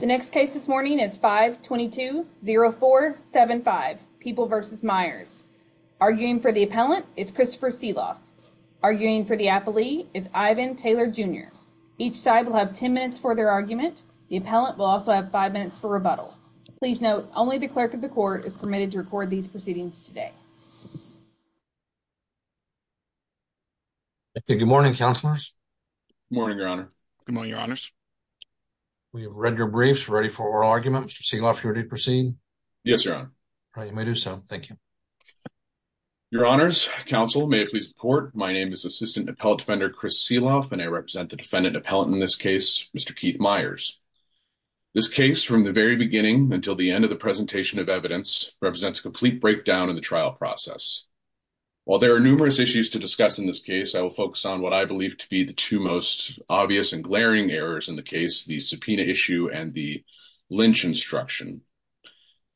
The next case this morning is 5 22 0 4 75 people versus Myers arguing for the appellant is Christopher Seeloff arguing for the athlete is Ivan Taylor Jr. Each side will have 10 minutes for their argument. The appellant will also have five minutes for rebuttal. Please note only the clerk of the court is permitted to record these proceedings today. Good morning, counselors. Morning, your honor. Come on, your honors. We have read your briefs ready for oral argument. Mr Seeloff here to proceed. Yes, your honor. You may do so. Thank you. Your honors. Council may please support. My name is assistant appellate defender Chris Seeloff and I represent the defendant appellant in this case, Mr Keith Myers. This case from the very beginning until the end of the presentation of evidence represents a complete breakdown in the trial process. While there are numerous issues to discuss in this case, I will focus on what I believe to be the two most obvious and glaring errors in the case, the subpoena issue and the lynch instruction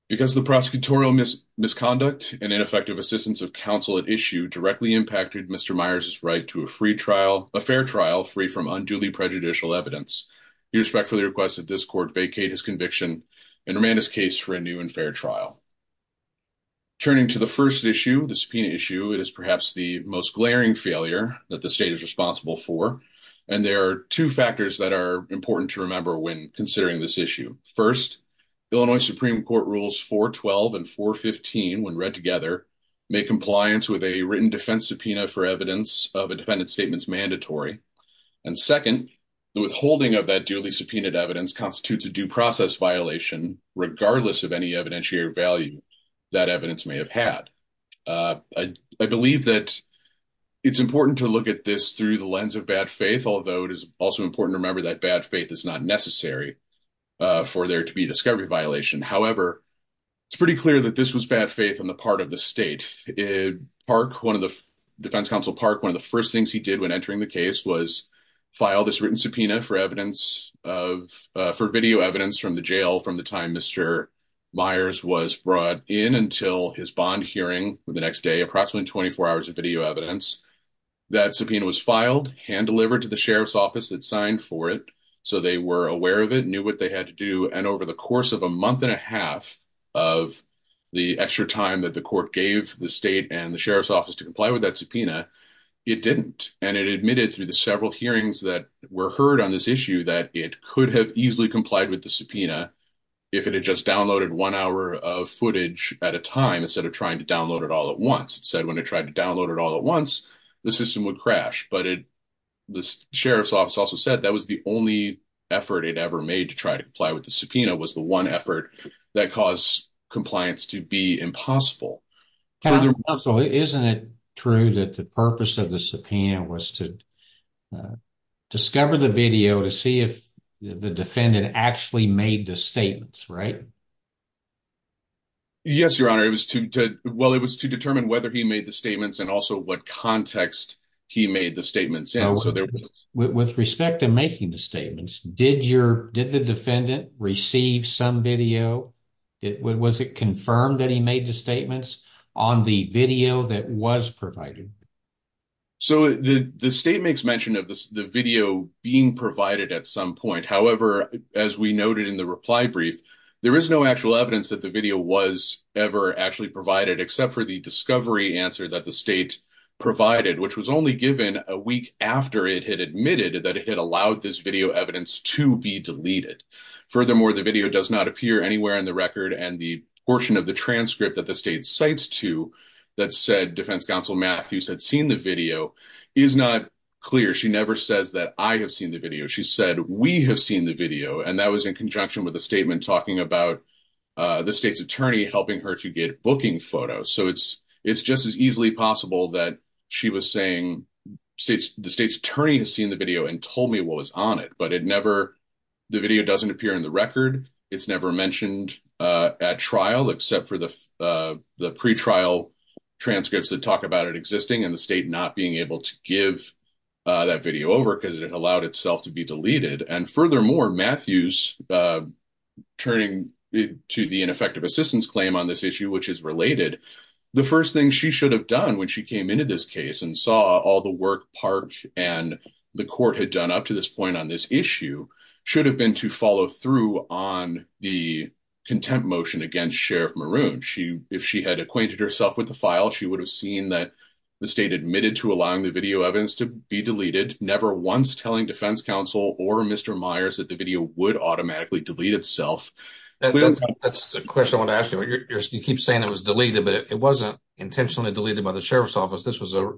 because the prosecutorial misconduct and ineffective assistance of counsel at issue directly impacted Mr Myers is right to a free trial, a fair trial free from unduly prejudicial evidence. You respectfully request that this court vacate his conviction and remain his case for a new and fair trial. Turning to the first issue, the subpoena issue, it is perhaps the most glaring failure that the state is responsible for. And there are two factors that are important to remember when considering this issue. First, Illinois Supreme Court rules 4 12 and 4 15 when read together, make compliance with a written defense subpoena for evidence of a defendant statements mandatory. And second, the withholding of that duly subpoenaed evidence constitutes a due process violation regardless of any evidentiary value that evidence may have had. Uh, I believe that it's important to look at this through the lens of bad faith, although it is also important to remember that bad faith is not necessary for there to be discovery violation. However, it's pretty clear that this was bad faith on the part of the state park. One of the defense counsel park. One of the first things he did when entering the case was file this written subpoena for evidence of for video evidence from the jail from the time Mr Myers was brought in until his bond hearing the next day, approximately 24 hours of video evidence that subpoena was filed hand delivered to the sheriff's office that signed for it. So they were aware of it, knew what they had to do. And over the course of a month and a half of the extra time that the court gave the state and the sheriff's office to comply with that subpoena, it didn't. And it admitted through the several hearings that were heard on this issue that it could have easily complied with the subpoena if it had just downloaded one hour of footage at a time instead of trying to download it all at once. It said when I tried to download it all at once, the system would crash. But it the sheriff's office also said that was the only effort it ever made to try to comply with the subpoena was the one effort that caused compliance to be impossible. So isn't it true that the purpose of the subpoena was to discover the video to see if the defendant actually made the statements right? Yes, Your Honor. It was to well, it was to determine whether he made the statements and also what context he made the statements. And so there was with respect to making the statements. Did your did the defendant receive some video? Was it confirmed that he made the statements on the video that was provided? So the state makes mention of the video being provided at some point. However, as we noted in the reply brief, there is no actual evidence that the video was ever actually provided except for the discovery answer that the state provided, which was only given a week after it had admitted that it had allowed this video evidence to be deleted. Furthermore, the video does not appear anywhere in the record. And the portion of the transcript that the state cites to that said Defense Counsel Matthews had seen the video is not clear. She never says that I have seen the video. She said we have seen the video, and that was in conjunction with the statement talking about the state's attorney helping her to get booking photos. So it's it's just as easily possible that she was saying since the state's attorney has seen the video and told me what was on it, but it never the video doesn't appear in the record. It's never mentioned at trial except for the pretrial transcripts that talk about it existing and the state not being able to give that video over because it allowed itself to be deleted. And furthermore, Matthews turning to the ineffective assistance claim on this issue, which is related, the first thing she should have done when she came into this case and saw all the work Park and the court had done up to this point on this issue should have been to follow through on the contempt motion against Sheriff Maroon. She if she had acquainted herself with the file, she would have seen that the state admitted to allowing the video evidence to be deleted, never once telling Defense Counsel or Mr Myers that the video would automatically delete itself. That's the question I want to ask you. You keep saying it was deleted, but it wasn't intentionally deleted by the sheriff's office. This was a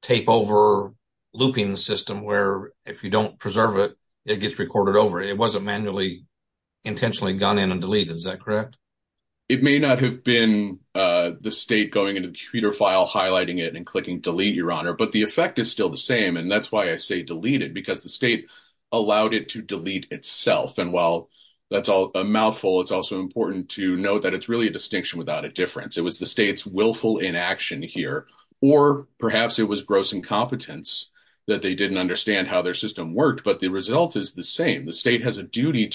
tape over looping system where, if you don't preserve it, it gets recorded over. It wasn't manually intentionally gone in and deleted. Is that correct? It may not have been the state going into the computer file, highlighting it and clicking delete your honor. But the effect is still the same. And that's why I say deleted, because the state allowed it to delete itself. And while that's all a mouthful, it's also important to note that it's really a distinction without a difference. It was the state's willful inaction here, or perhaps it was gross incompetence that they didn't understand how their system worked. But the result is the same. The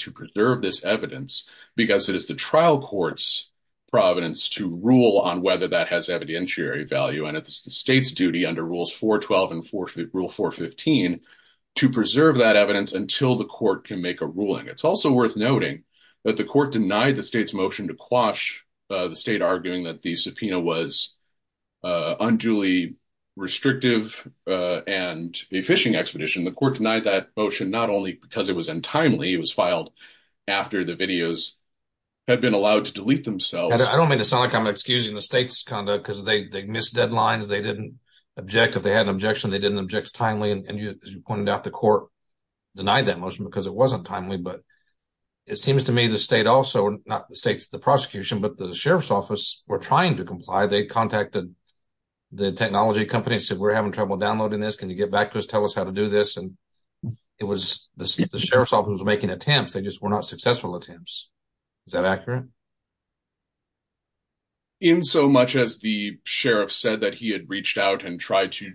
trial court's providence to rule on whether that has evidentiary value. And it's the state's duty under rules 412 and rule 415 to preserve that evidence until the court can make a ruling. It's also worth noting that the court denied the state's motion to quash the state, arguing that the subpoena was unduly restrictive and a phishing expedition. The court denied that motion not only because it was untimely, it was filed after the videos had been allowed to delete themselves. I don't mean to sound like I'm excusing the state's conduct because they missed deadlines. They didn't object. If they had an objection, they didn't object timely. And you pointed out the court denied that motion because it wasn't timely. But it seems to me the state also not the state's the prosecution, but the sheriff's office were trying to comply. They contacted the technology companies said, We're having trouble downloading this. Can you get back to us? Tell us how to do this. And it was the sheriff's office making attempts. They just were not successful attempts. Is that accurate? In so much as the sheriff said that he had reached out and tried to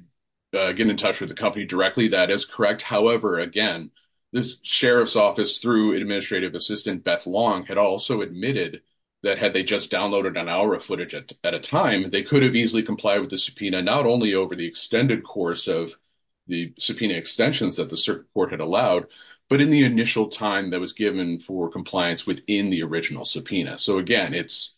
get in touch with the company directly, that is correct. However, again, the sheriff's office through administrative assistant Beth Long had also admitted that had they just downloaded an hour of footage at a time, they could have easily comply with the subpoena not only over the extended course of the subpoena extensions that the circuit court had allowed, but in the initial time that was given for compliance within the original subpoena. So again, it's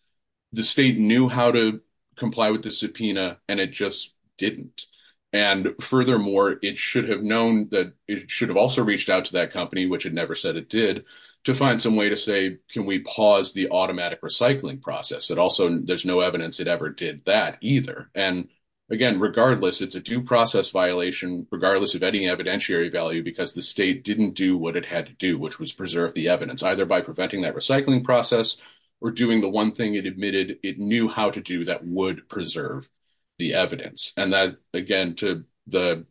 the state knew how to comply with the subpoena, and it just didn't. And furthermore, it should have known that it should have also reached out to that company, which had never said it did to find some way to say, Can we pause the automatic recycling process? It also there's no evidence it ever did that either. And again, regardless, it's a due process violation, regardless of any evidentiary value, because the state didn't do what it had to do, which was preserve the evidence either by preventing that recycling process or doing the one thing it admitted it knew how to do that would preserve the evidence. And that again to the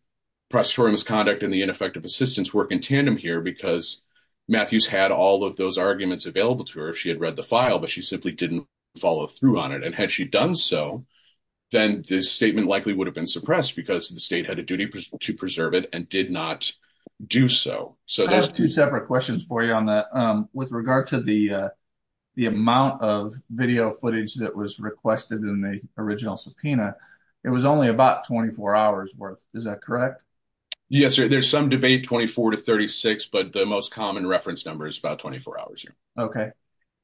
prostitution misconduct and the ineffective assistance work in tandem here because Matthews had all of those arguments available to her. She had read the file, but she simply didn't follow through on it. And had she done so, then this statement likely would have been and did not do so. So there's two separate questions for you on that. With regard to the amount of video footage that was requested in the original subpoena, it was only about 24 hours worth. Is that correct? Yes, sir. There's some debate 24 to 36, but the most common reference number is about 24 hours. Okay.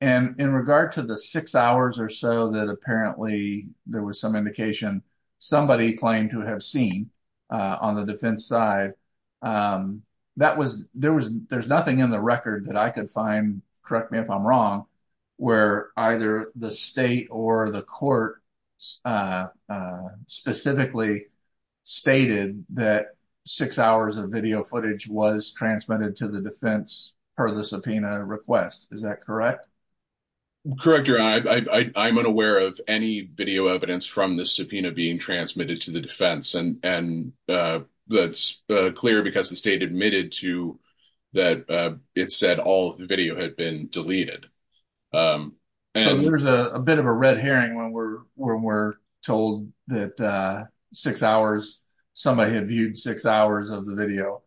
And in regard to the six hours or so that apparently there was some indication somebody claimed to have seen on the defense side, um, that was there was there's nothing in the record that I could find. Correct me if I'm wrong, where either the state or the court, uh, specifically stated that six hours of video footage was transmitted to the defense per the subpoena request. Is that correct? Correct. You're I'm unaware of any video evidence from the subpoena being transmitted to the defense, and, uh, that's clear because the state admitted to that. It said all the video has been deleted. Um, there's a bit of a red herring when we're when we're told that six hours somebody had viewed six hours of the video.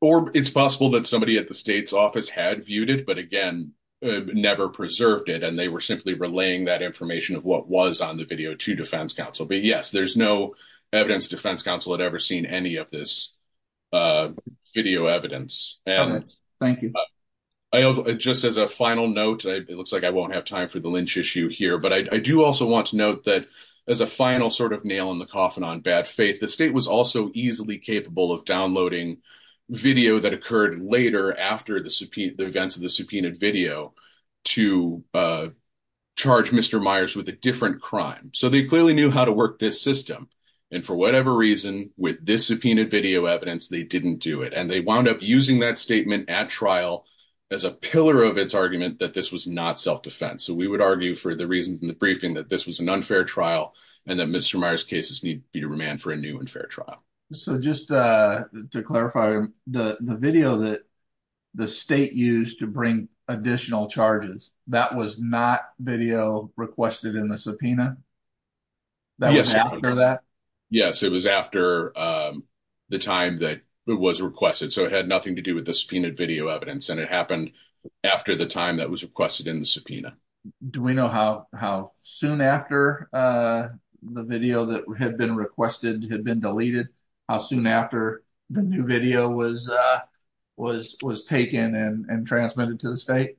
Or it's possible that somebody at the state's office had viewed it, but again, never preserved it, and they were simply relaying that information of what was on the video to defense counsel. But yes, there's no evidence. Defense counsel had ever seen any of this, uh, video evidence. And thank you. I just as a final note, it looks like I won't have time for the lynch issue here. But I do also want to note that as a final sort of nail in the coffin on bad faith, the downloading video that occurred later after the events of the subpoenaed video to, uh, charge Mr Meyers with a different crime. So they clearly knew how to work this system. And for whatever reason, with this subpoenaed video evidence, they didn't do it. And they wound up using that statement at trial as a pillar of its argument that this was not self defense. So we would argue for the reasons in the briefing that this was an unfair trial and that Mr Myers cases need to remand for a new and fair trial. So just, uh, to clarify the video that the state used to bring additional charges, that was not video requested in the subpoena. That was after that. Yes, it was after, um, the time that it was requested. So it had nothing to do with the subpoenaed video evidence, and it happened after the time that was requested in the subpoena. Do we know how soon after, uh, the video that had been requested had been deleted? How soon after the new video was, uh, was was taken and transmitted to the state?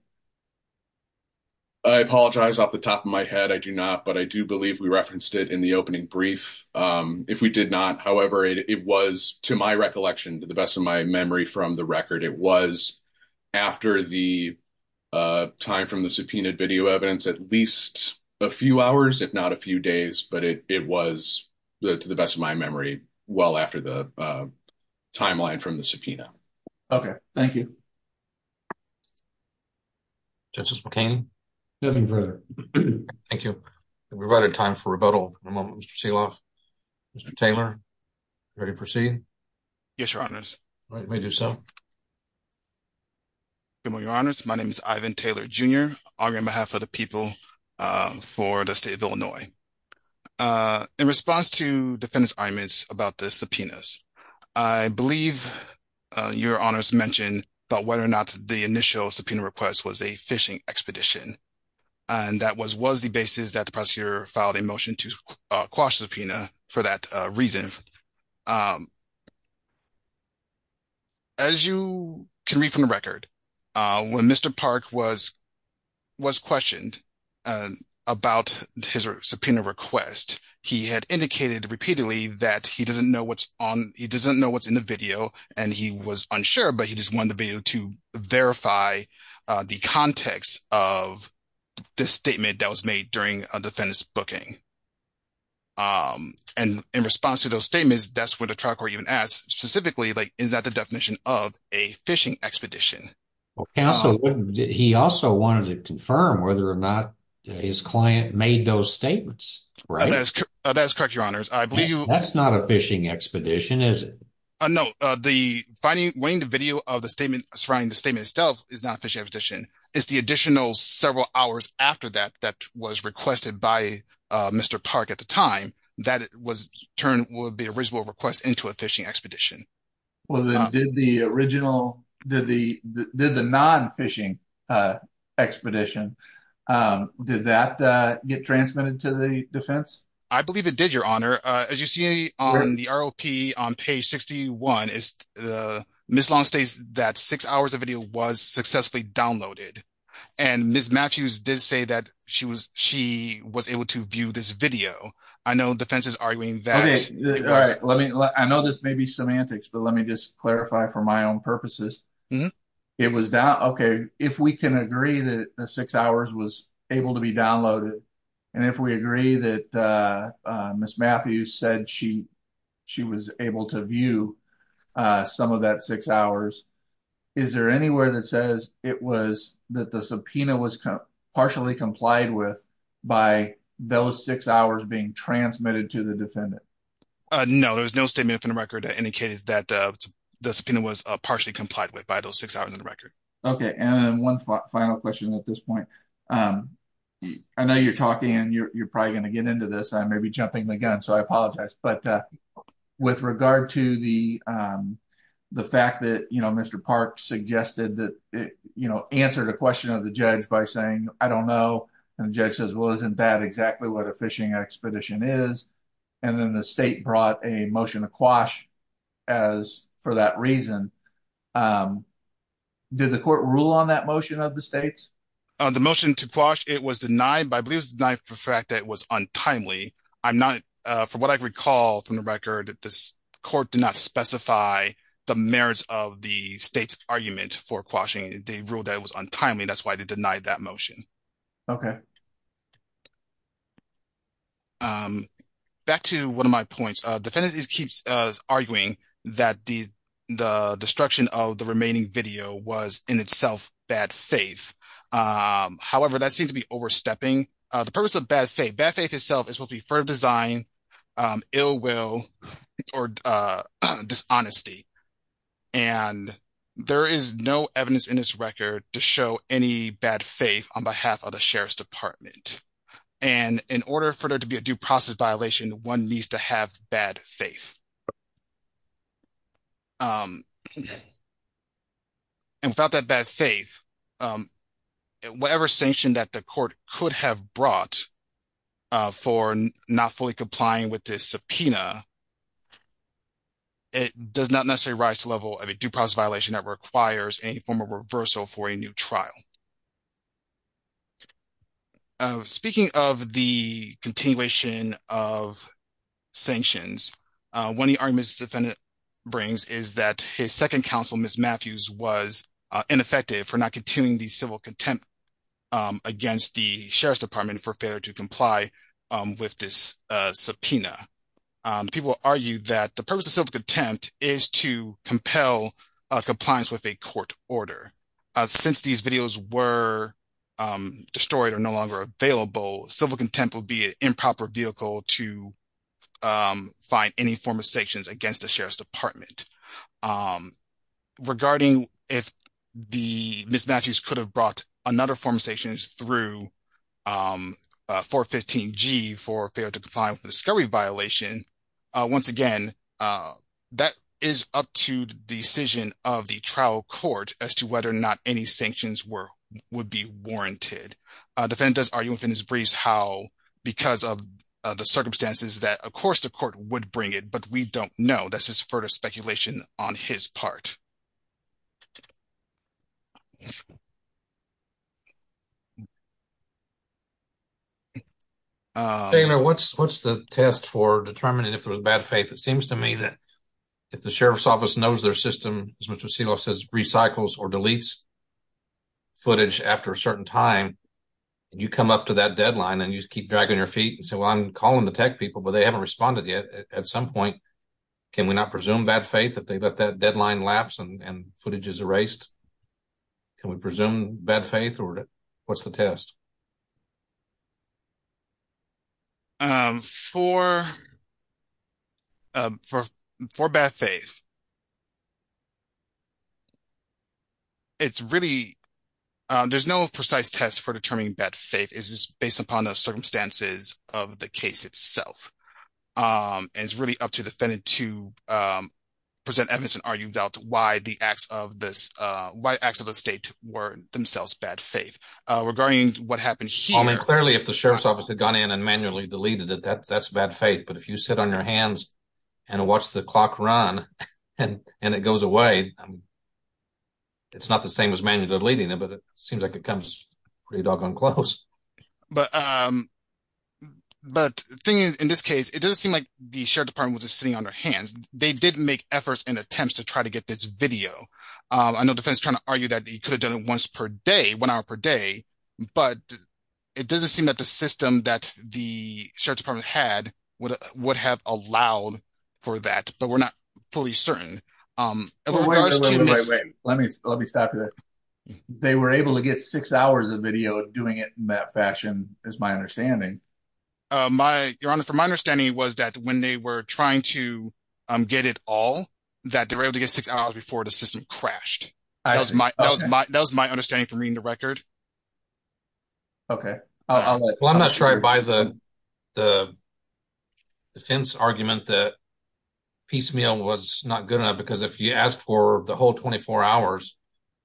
I apologize off the top of my head. I do not. But I do believe we referenced it in the opening brief. Um, if we did not, however, it was to my recollection, to the best of my memory from the record, it was after the, uh, time from the subpoenaed video evidence at least a few hours, if not a few days. But it was to the best of my memory. Well, after the, uh, timeline from the subpoena. Okay, thank you. Justice McCain. Nothing further. Thank you. We've got a time for rebuttal. Mr Seeloff, Mr Taylor. Ready to proceed? Yes, Your Honor's right. We do so. Your Honor's. My name is Ivan Taylor Jr. on behalf of the people for the state of Illinois. Uh, in response to defendants arguments about the subpoenas, I believe your honors mentioned about whether or not the initial subpoena request was a fishing expedition. And that was was the basis that the prosecutor filed a motion to quash the subpoena for that reason. Um, as you can read from the record, when Mr Park was was questioned about his subpoena request, he had indicated repeatedly that he doesn't know what's on. He doesn't know what's in the video, and he was unsure, but he just wanted to be able to verify the context of this statement that was made during a defendant's booking. Um, and in response to those statements, that's what the trial court even asked specifically. Like, is that the definition of a fishing expedition? Well, counsel, he also wanted to confirm whether or not his client made those statements, right? That's correct. Your honors. I believe that's not a fishing expedition, is it? No, the finding weighing the video of the statement surrounding the statement itself is not fishing expedition. It's the additional several hours after that that was requested by Mr Park at the time that was turned would be a reasonable request into a fishing expedition. Well, then did the original did the did the non fishing, uh, expedition? Um, did that get transmitted to the defense? I believe it did. Your honor, as you see on the R. O. P. On page 61 is, uh, Miss Long says that six hours of video was successfully downloaded, and Miss Matthews did say that she was. She was able to view this video. I know defense is arguing that I know this may be semantics, but let me just clarify for my own purposes. It was down. Okay, if we can agree that six hours was able to be downloaded, and if we agree that, uh, Miss Matthews said she she was able to view some of that six hours. Is there anywhere that says it was that the subpoena was partially complied with by those six hours being transmitted to the defendant? No, there's no statement from the record that indicated that the subpoena was partially complied with by those six hours in the record. Okay, and one final question at this point. Um, I know you're talking and you're probably gonna get into this. I may be jumping the gun, so I apologize. But, uh, with regard to the, um, the fact that, you know, Mr Park suggested that, you know, answered a question of the judge by saying, I don't know. And the judge says, Well, isn't that exactly what a fishing expedition is? And then the state brought a motion to quash as for that reason. Um, did the court rule on that motion of the state's the motion to quash? It was denied by believes the fact that was untimely. I'm not for what I recall from the record. This court did not specify the merits of the state's argument for quashing. They ruled that was untimely. That's why they denied that motion. Okay. Um, back to one of my points. Defendant is keeps arguing that the the destruction of the remaining video was in itself bad faith. Um, however, that seems to be overstepping the purpose of bad faith. Bad faith itself is will be for design, um, ill will or, uh, dishonesty. And there is no evidence in this record to show any bad faith on behalf of the Sheriff's Department. And in order for there to be a due process violation, one needs to have bad faith. Um, and without that bad faith, um, whatever sanction that the court could have brought for not fully complying with this subpoena, it does not necessarily rise to level of a due process violation that requires any form of reversal for a new trial. Speaking of the continuation of sanctions, when the army's defendant brings is that his second council Miss Matthews was ineffective for not attuning the civil contempt against the Sheriff's Department for failure to comply with this subpoena. People argue that the purpose of self contempt is to compel compliance with a court order. Since these videos were destroyed or no longer available, civil contempt will be improper vehicle to, um, find any form of sanctions against the Sheriff's Department. Um, regarding if the mismatches could have brought another form of sanctions through, um, 4 15 G for failure to comply with the discovery violation. Once again, uh, that is up to the decision of the trial court as to whether or not any sanctions were would be warranted. Defendant does argue within his briefs how because of the don't know. That's his furthest speculation on his part. Uh, you know, what's what's the test for determining if there was bad faith? It seems to me that if the sheriff's office knows their system, as much as ceo says recycles or deletes footage after a certain time, you come up to that deadline and you keep dragging your feet and say, well, I'm calling the tech people, but they haven't responded yet. At some point, can we not presume bad faith if they let that deadline lapse and footage is erased? Can we presume bad faith or what's the test? Um, for for for bad faith, it's really, there's no precise test for determining that faith is based upon the circumstances of the case itself. Um, and it's really up to defendant to, um, present evidence and argue about why the acts of this, uh, white acts of the state were themselves bad faith regarding what happened here. Clearly, if the sheriff's office had gone in and manually deleted it, that that's bad faith. But if you sit on your hands and watch the clock run and it goes away, it's not the same as manually deleting it, but it seems like it comes pretty close. But, um, but the thing is, in this case, it doesn't seem like the sheriff's department was just sitting on their hands. They didn't make efforts and attempts to try to get this video. Um, I know defense trying to argue that he could have done it once per day, one hour per day, but it doesn't seem that the system that the sheriff's department had would have allowed for that, but we're not fully certain. Um, wait, wait, wait, let me let me stop you. They were able to get six hours of video doing it in that fashion is my understanding. Uh, my your honor, from my understanding was that when they were trying to get it all that they were able to get six hours before the system crashed. That was my that was my understanding from reading the record. Okay, well, I'm not sure I buy the the defense argument that piecemeal was not good enough because if you asked for the whole 24 hours,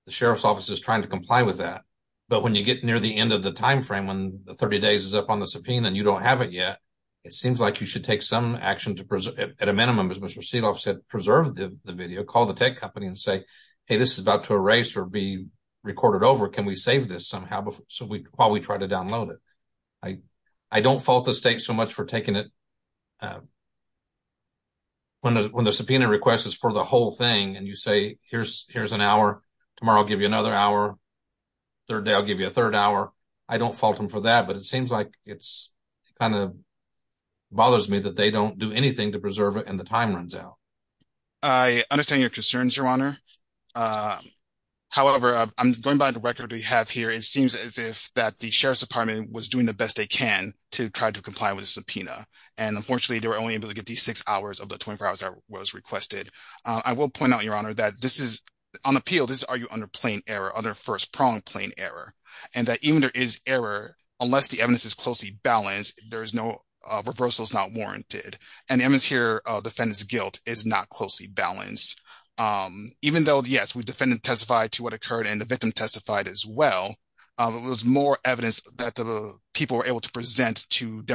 the sheriff's office is trying to comply with that. But when you get near the end of the time frame, when 30 days is up on the subpoena and you don't have it yet, it seems like you should take some action to preserve at a minimum, as Mr Seeloff said, preserve the video, call the tech company and say, Hey, this is about to erase or be recorded over. Can we save this somehow? So we while we try to download it, I I don't fault the state so much for taking it. Uh, when, when the subpoena request is for the whole thing and you say, here's here's an hour tomorrow, I'll give you another hour. Third day, I'll give you a third hour. I don't fault him for that. But it seems like it's kind of bothers me that they don't do anything to preserve it. And the time runs out. I understand your concerns, your honor. Uh, however, I'm going by the record we have here. It seems as if that the sheriff's department was doing the best they can to try to comply with the subpoena. And unfortunately, they were only able to get the six hours of the 24 hours that was requested. I will point out your honor that this is on appeal. This are you under plain error on their first prong plain error and that even there is error unless the evidence is closely balanced, there is no reversal is not warranted and evidence here. Defendant's guilt is not closely balanced. Um, even though, yes, we defended testified to what occurred and the victim testified as well. It was more evidence that the people were able to present to the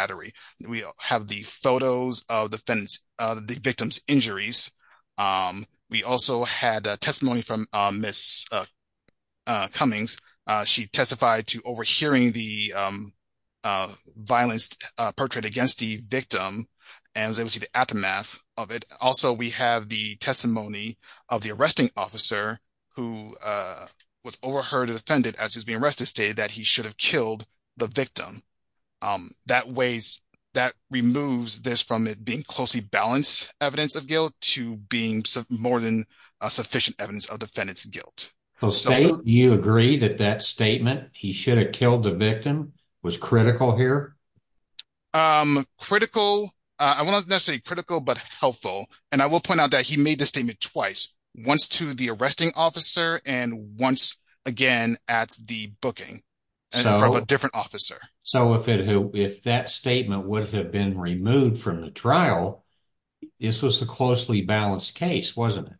jury. We have the photos of the fence, the victim's injuries. Um, we also had a testimony from Miss, uh, Cummings. She testified to overhearing the, um, uh, violence portrait against the victim and was able to see the aftermath of it. Also, we have the testimony of the arresting officer who, uh, was overheard and offended as he's being arrested, stated that he should have killed the victim. Um, that ways that removes this from it being closely balanced evidence of guilt to being more than a sufficient evidence of defendant's guilt. Jose, you agree that that statement he should have killed the victim was critical here. Um, critical. I want to say critical but helpful. And I will point out that he made the statement twice once to the from a different officer. So if it if that statement would have been removed from the trial, this was a closely balanced case, wasn't it?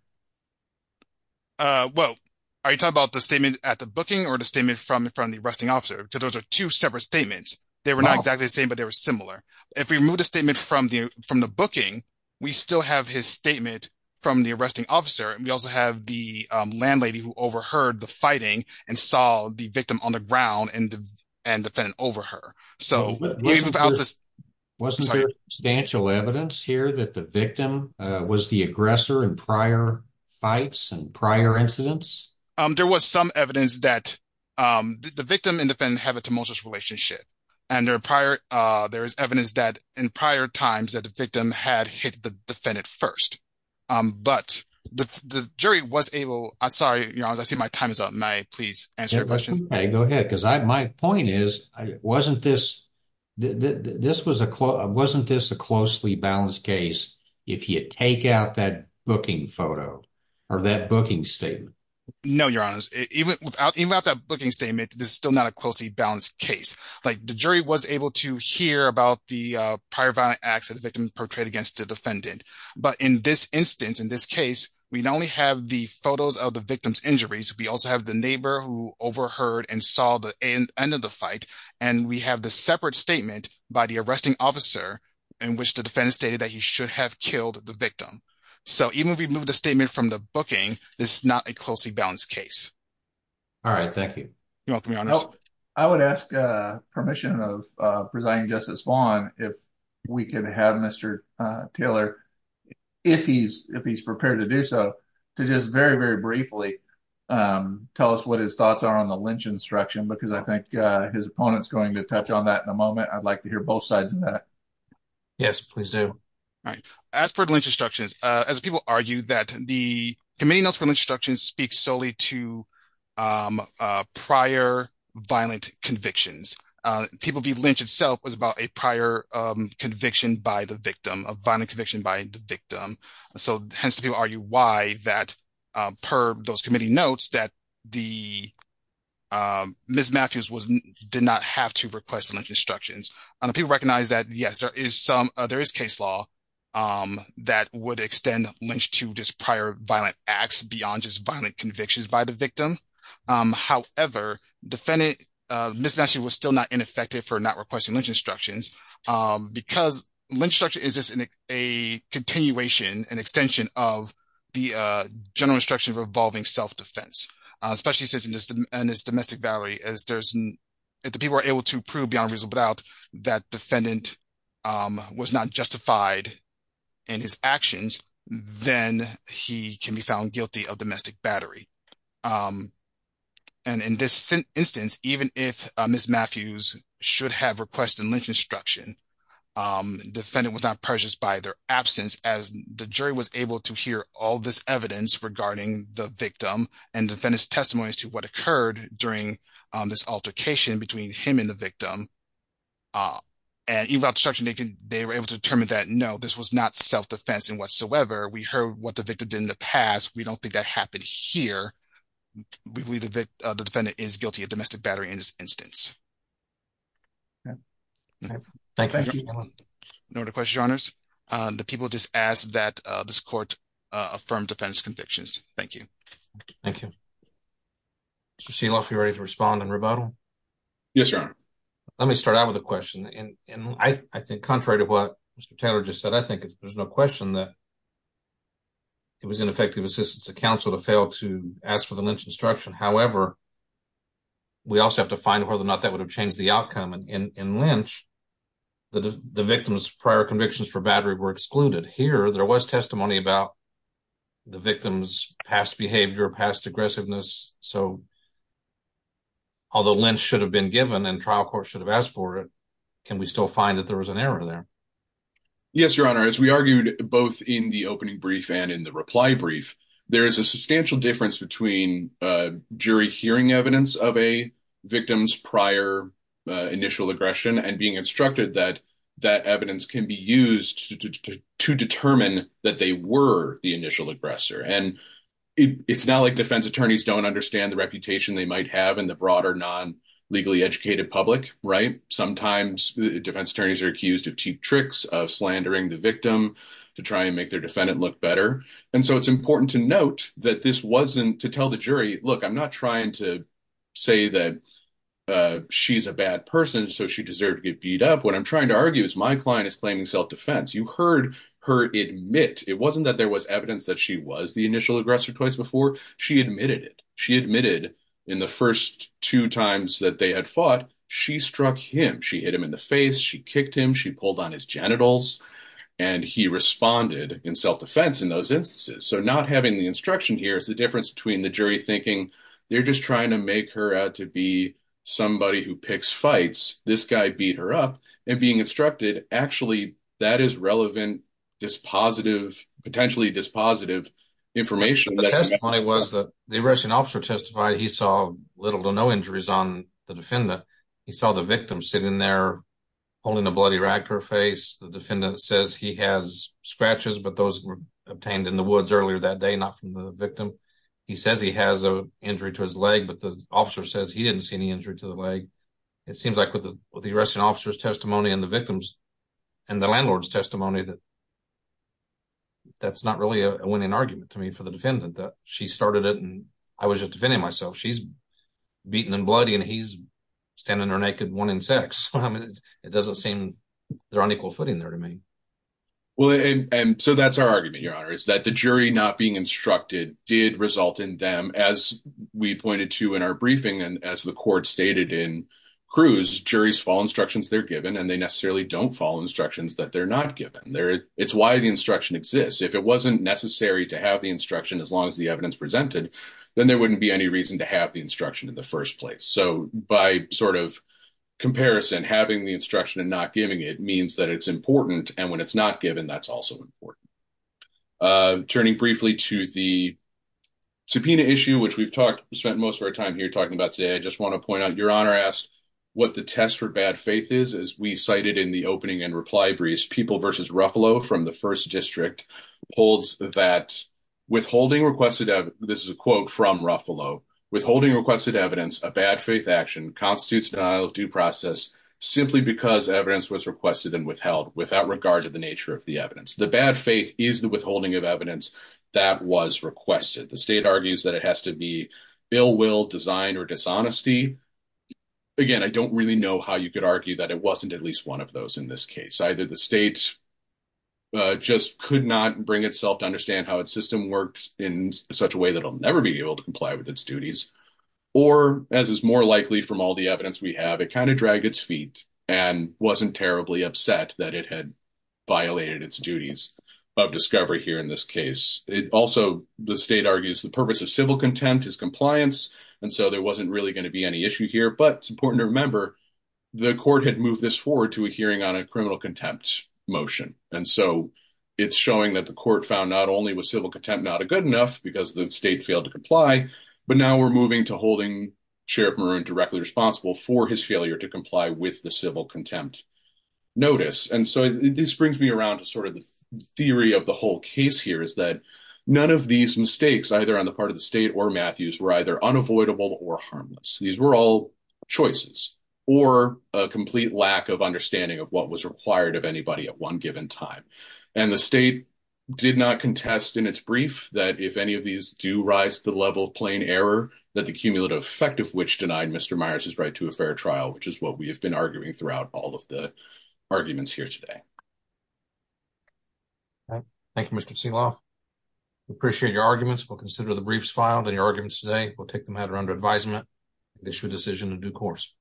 Uh, well, are you talking about the statement at the booking or the statement from the from the arresting officer? Because those are two separate statements. They were not exactly the same, but they were similar. If we remove the statement from the from the booking, we still have his statement from the arresting officer. And we also have the landlady who overheard the and defend over her. So without this wasn't substantial evidence here that the victim was the aggressor in prior fights and prior incidents. Um, there was some evidence that, um, the victim and defend have a tumultuous relationship. And their prior, uh, there is evidence that in prior times that the victim had hit the defendant first. Um, but the jury was able. I'm sorry. You know, I see my time is up. May I please answer your question? Go ahead. My point is, wasn't this? This was a wasn't this a closely balanced case? If you take out that booking photo or that booking statement? No, Your Honor. Even without that booking statement, this is still not a closely balanced case. Like the jury was able to hear about the prior violent acts that the victim portrayed against the defendant. But in this instance, in this case, we only have the photos of the victim's injuries. We also have the end of the fight, and we have the separate statement by the arresting officer in which the defense stated that he should have killed the victim. So even if we move the statement from the booking, this is not a closely balanced case. All right, thank you. You know, I would ask permission of presiding Justice Vaughn if we could have Mr Taylor if he's if he's prepared to do so to just very, very briefly, um, tell us what his thoughts are on the lynch instruction, because I think his opponent's going to touch on that in a moment. I'd like to hear both sides of that. Yes, please do. All right. As for lynch instructions, as people argue that the committee knows from instruction speaks solely to, um, prior violent convictions, people believe lynch itself was about a prior conviction by the victim of violent conviction by the victim. So, hence, the people argue why that per those committee notes that the, um, Miss Matthews was did not have to request lynch instructions. People recognize that. Yes, there is some. There is case law, um, that would extend lynch to this prior violent acts beyond just violent convictions by the victim. However, defendant mismatch was still not ineffective for not requesting lynch instructions because lynch structure is just a continuation and extension of the general instruction revolving self defense, especially since in this domestic valley, as there's the people are able to prove beyond reasonable doubt that defendant was not justified in his actions, then he can be found guilty of domestic battery. Um, and in this instance, even if Miss Matthews should have requested lynch instruction, um, defendant was not purchased by their evidence regarding the victim and defend his testimony as to what occurred during this altercation between him and the victim. Uh, and you've got such naked. They were able to determine that. No, this was not self defense in whatsoever. We heard what the victim did in the past. We don't think that happened here. We believe that the defendant is guilty of domestic battery in this instance. Yeah, thank you. No, the question honors the people just asked that this court affirmed defense convictions. Thank you. Thank you. She's enough. You're ready to respond and rebuttal. Yes, sir. Let me start out with a question. And I think contrary to what Mr Taylor just said, I think there's no question that it was ineffective assistance. The council to fail to ask for the lynch instruction. However, we also have to find whether or not that would have changed the outcome in Lynch. The victim's prior convictions for battery were excluded here. There was testimony about the victim's past behavior, past aggressiveness. So although lynch should have been given and trial court should have asked for it, can we still find that there was an error there? Yes, Your Honor. As we argued both in the opening brief and in the reply brief, there is a substantial difference between jury hearing evidence of a victim's prior initial aggression and being instructed that that evidence can be used to determine that they were the initial aggressor. And it's not like defense attorneys don't understand the reputation they might have in the broader, non legally educated public, right? Sometimes defense attorneys are accused of cheap tricks of slandering the victim to try and make their defendant look better. And so it's important to note that this wasn't to tell the jury, Look, I'm not trying to say that she's a bad person, so she deserved to get beat up. What I'm trying to argue is my client is claiming self defense. You heard her admit it wasn't that there was evidence that she was the initial aggressor twice before she admitted it. She admitted in the first two times that they had fought, she struck him. She hit him in the face. She kicked him. She pulled on his genitals, and he responded in self defense in those instances. So not having the instruction here is the difference between the jury thinking they're just trying to make her out to be somebody who picks fights. This guy beat her up and being instructed. Actually, that is relevant, just positive, potentially dispositive information. The testimony was that the Russian officer testified he saw little to no injuries on the defendant. He saw the victim sitting there holding a bloody Ractor face. The defendant says he has scratches, but those were obtained in the woods earlier that day, not from the victim. He says he has a injury to his leg, but the officer says he didn't see any injury to the leg. It seems like with the arresting officer's testimony and the victim's and the landlord's testimony that that's not really a winning argument to me for the defendant that she started it, and I was just defending myself. She's beaten and bloody, and he's standing there naked, wanting sex. It doesn't seem they're on equal footing there to me. Well, and so that's our argument. Your honor is that the jury not being instructed did result in them. As we pointed to in our briefing and as the court stated in cruise, juries fall instructions they're given and they necessarily don't fall instructions that they're not given there. It's why the instruction exists. If it wasn't necessary to have the instruction as long as the evidence presented, then there wouldn't be any reason to have the instruction in the first place. So by sort of comparison, having the instruction and not giving it means that it's important. And when briefly to the subpoena issue, which we've talked, spent most of our time here talking about today, I just want to point out your honor asked what the test for bad faith is, as we cited in the opening and reply breeze people versus Ruffalo from the first district holds that withholding requested. This is a quote from Ruffalo withholding requested evidence. A bad faith action constitutes denial of due process simply because evidence was requested and withheld without regard to the nature of the evidence. The bad faith is the withholding of evidence that was requested. The state argues that it has to be bill will design or dishonesty. Again, I don't really know how you could argue that it wasn't at least one of those. In this case, either the state just could not bring itself to understand how its system worked in such a way that will never be able to comply with its duties or as is more likely from all the evidence we have, it kind of dragged its feet and wasn't terribly upset that it had violated its duties of discovery here. In this case, it also the state argues the purpose of civil contempt is compliance, and so there wasn't really going to be any issue here. But it's important to remember the court had moved this forward to a hearing on a criminal contempt motion, and so it's showing that the court found not only was civil contempt not a good enough because the state failed to comply, but now we're moving to holding Sheriff Maroon directly responsible for his notice. And so this brings me around to sort of the theory of the whole case here is that none of these mistakes, either on the part of the state or Matthews, were either unavoidable or harmless. These were all choices or a complete lack of understanding of what was required of anybody at one given time. And the state did not contest in its brief that if any of these do rise to the level of plain error that the cumulative effect of which denied Mr Myers is right to a fair trial, which is what we have been arguing throughout all of the arguments here today. Thank you, Mr Seawolf. Appreciate your arguments. We'll consider the briefs filed in your arguments today. We'll take the matter under advisement. It's your decision to do course.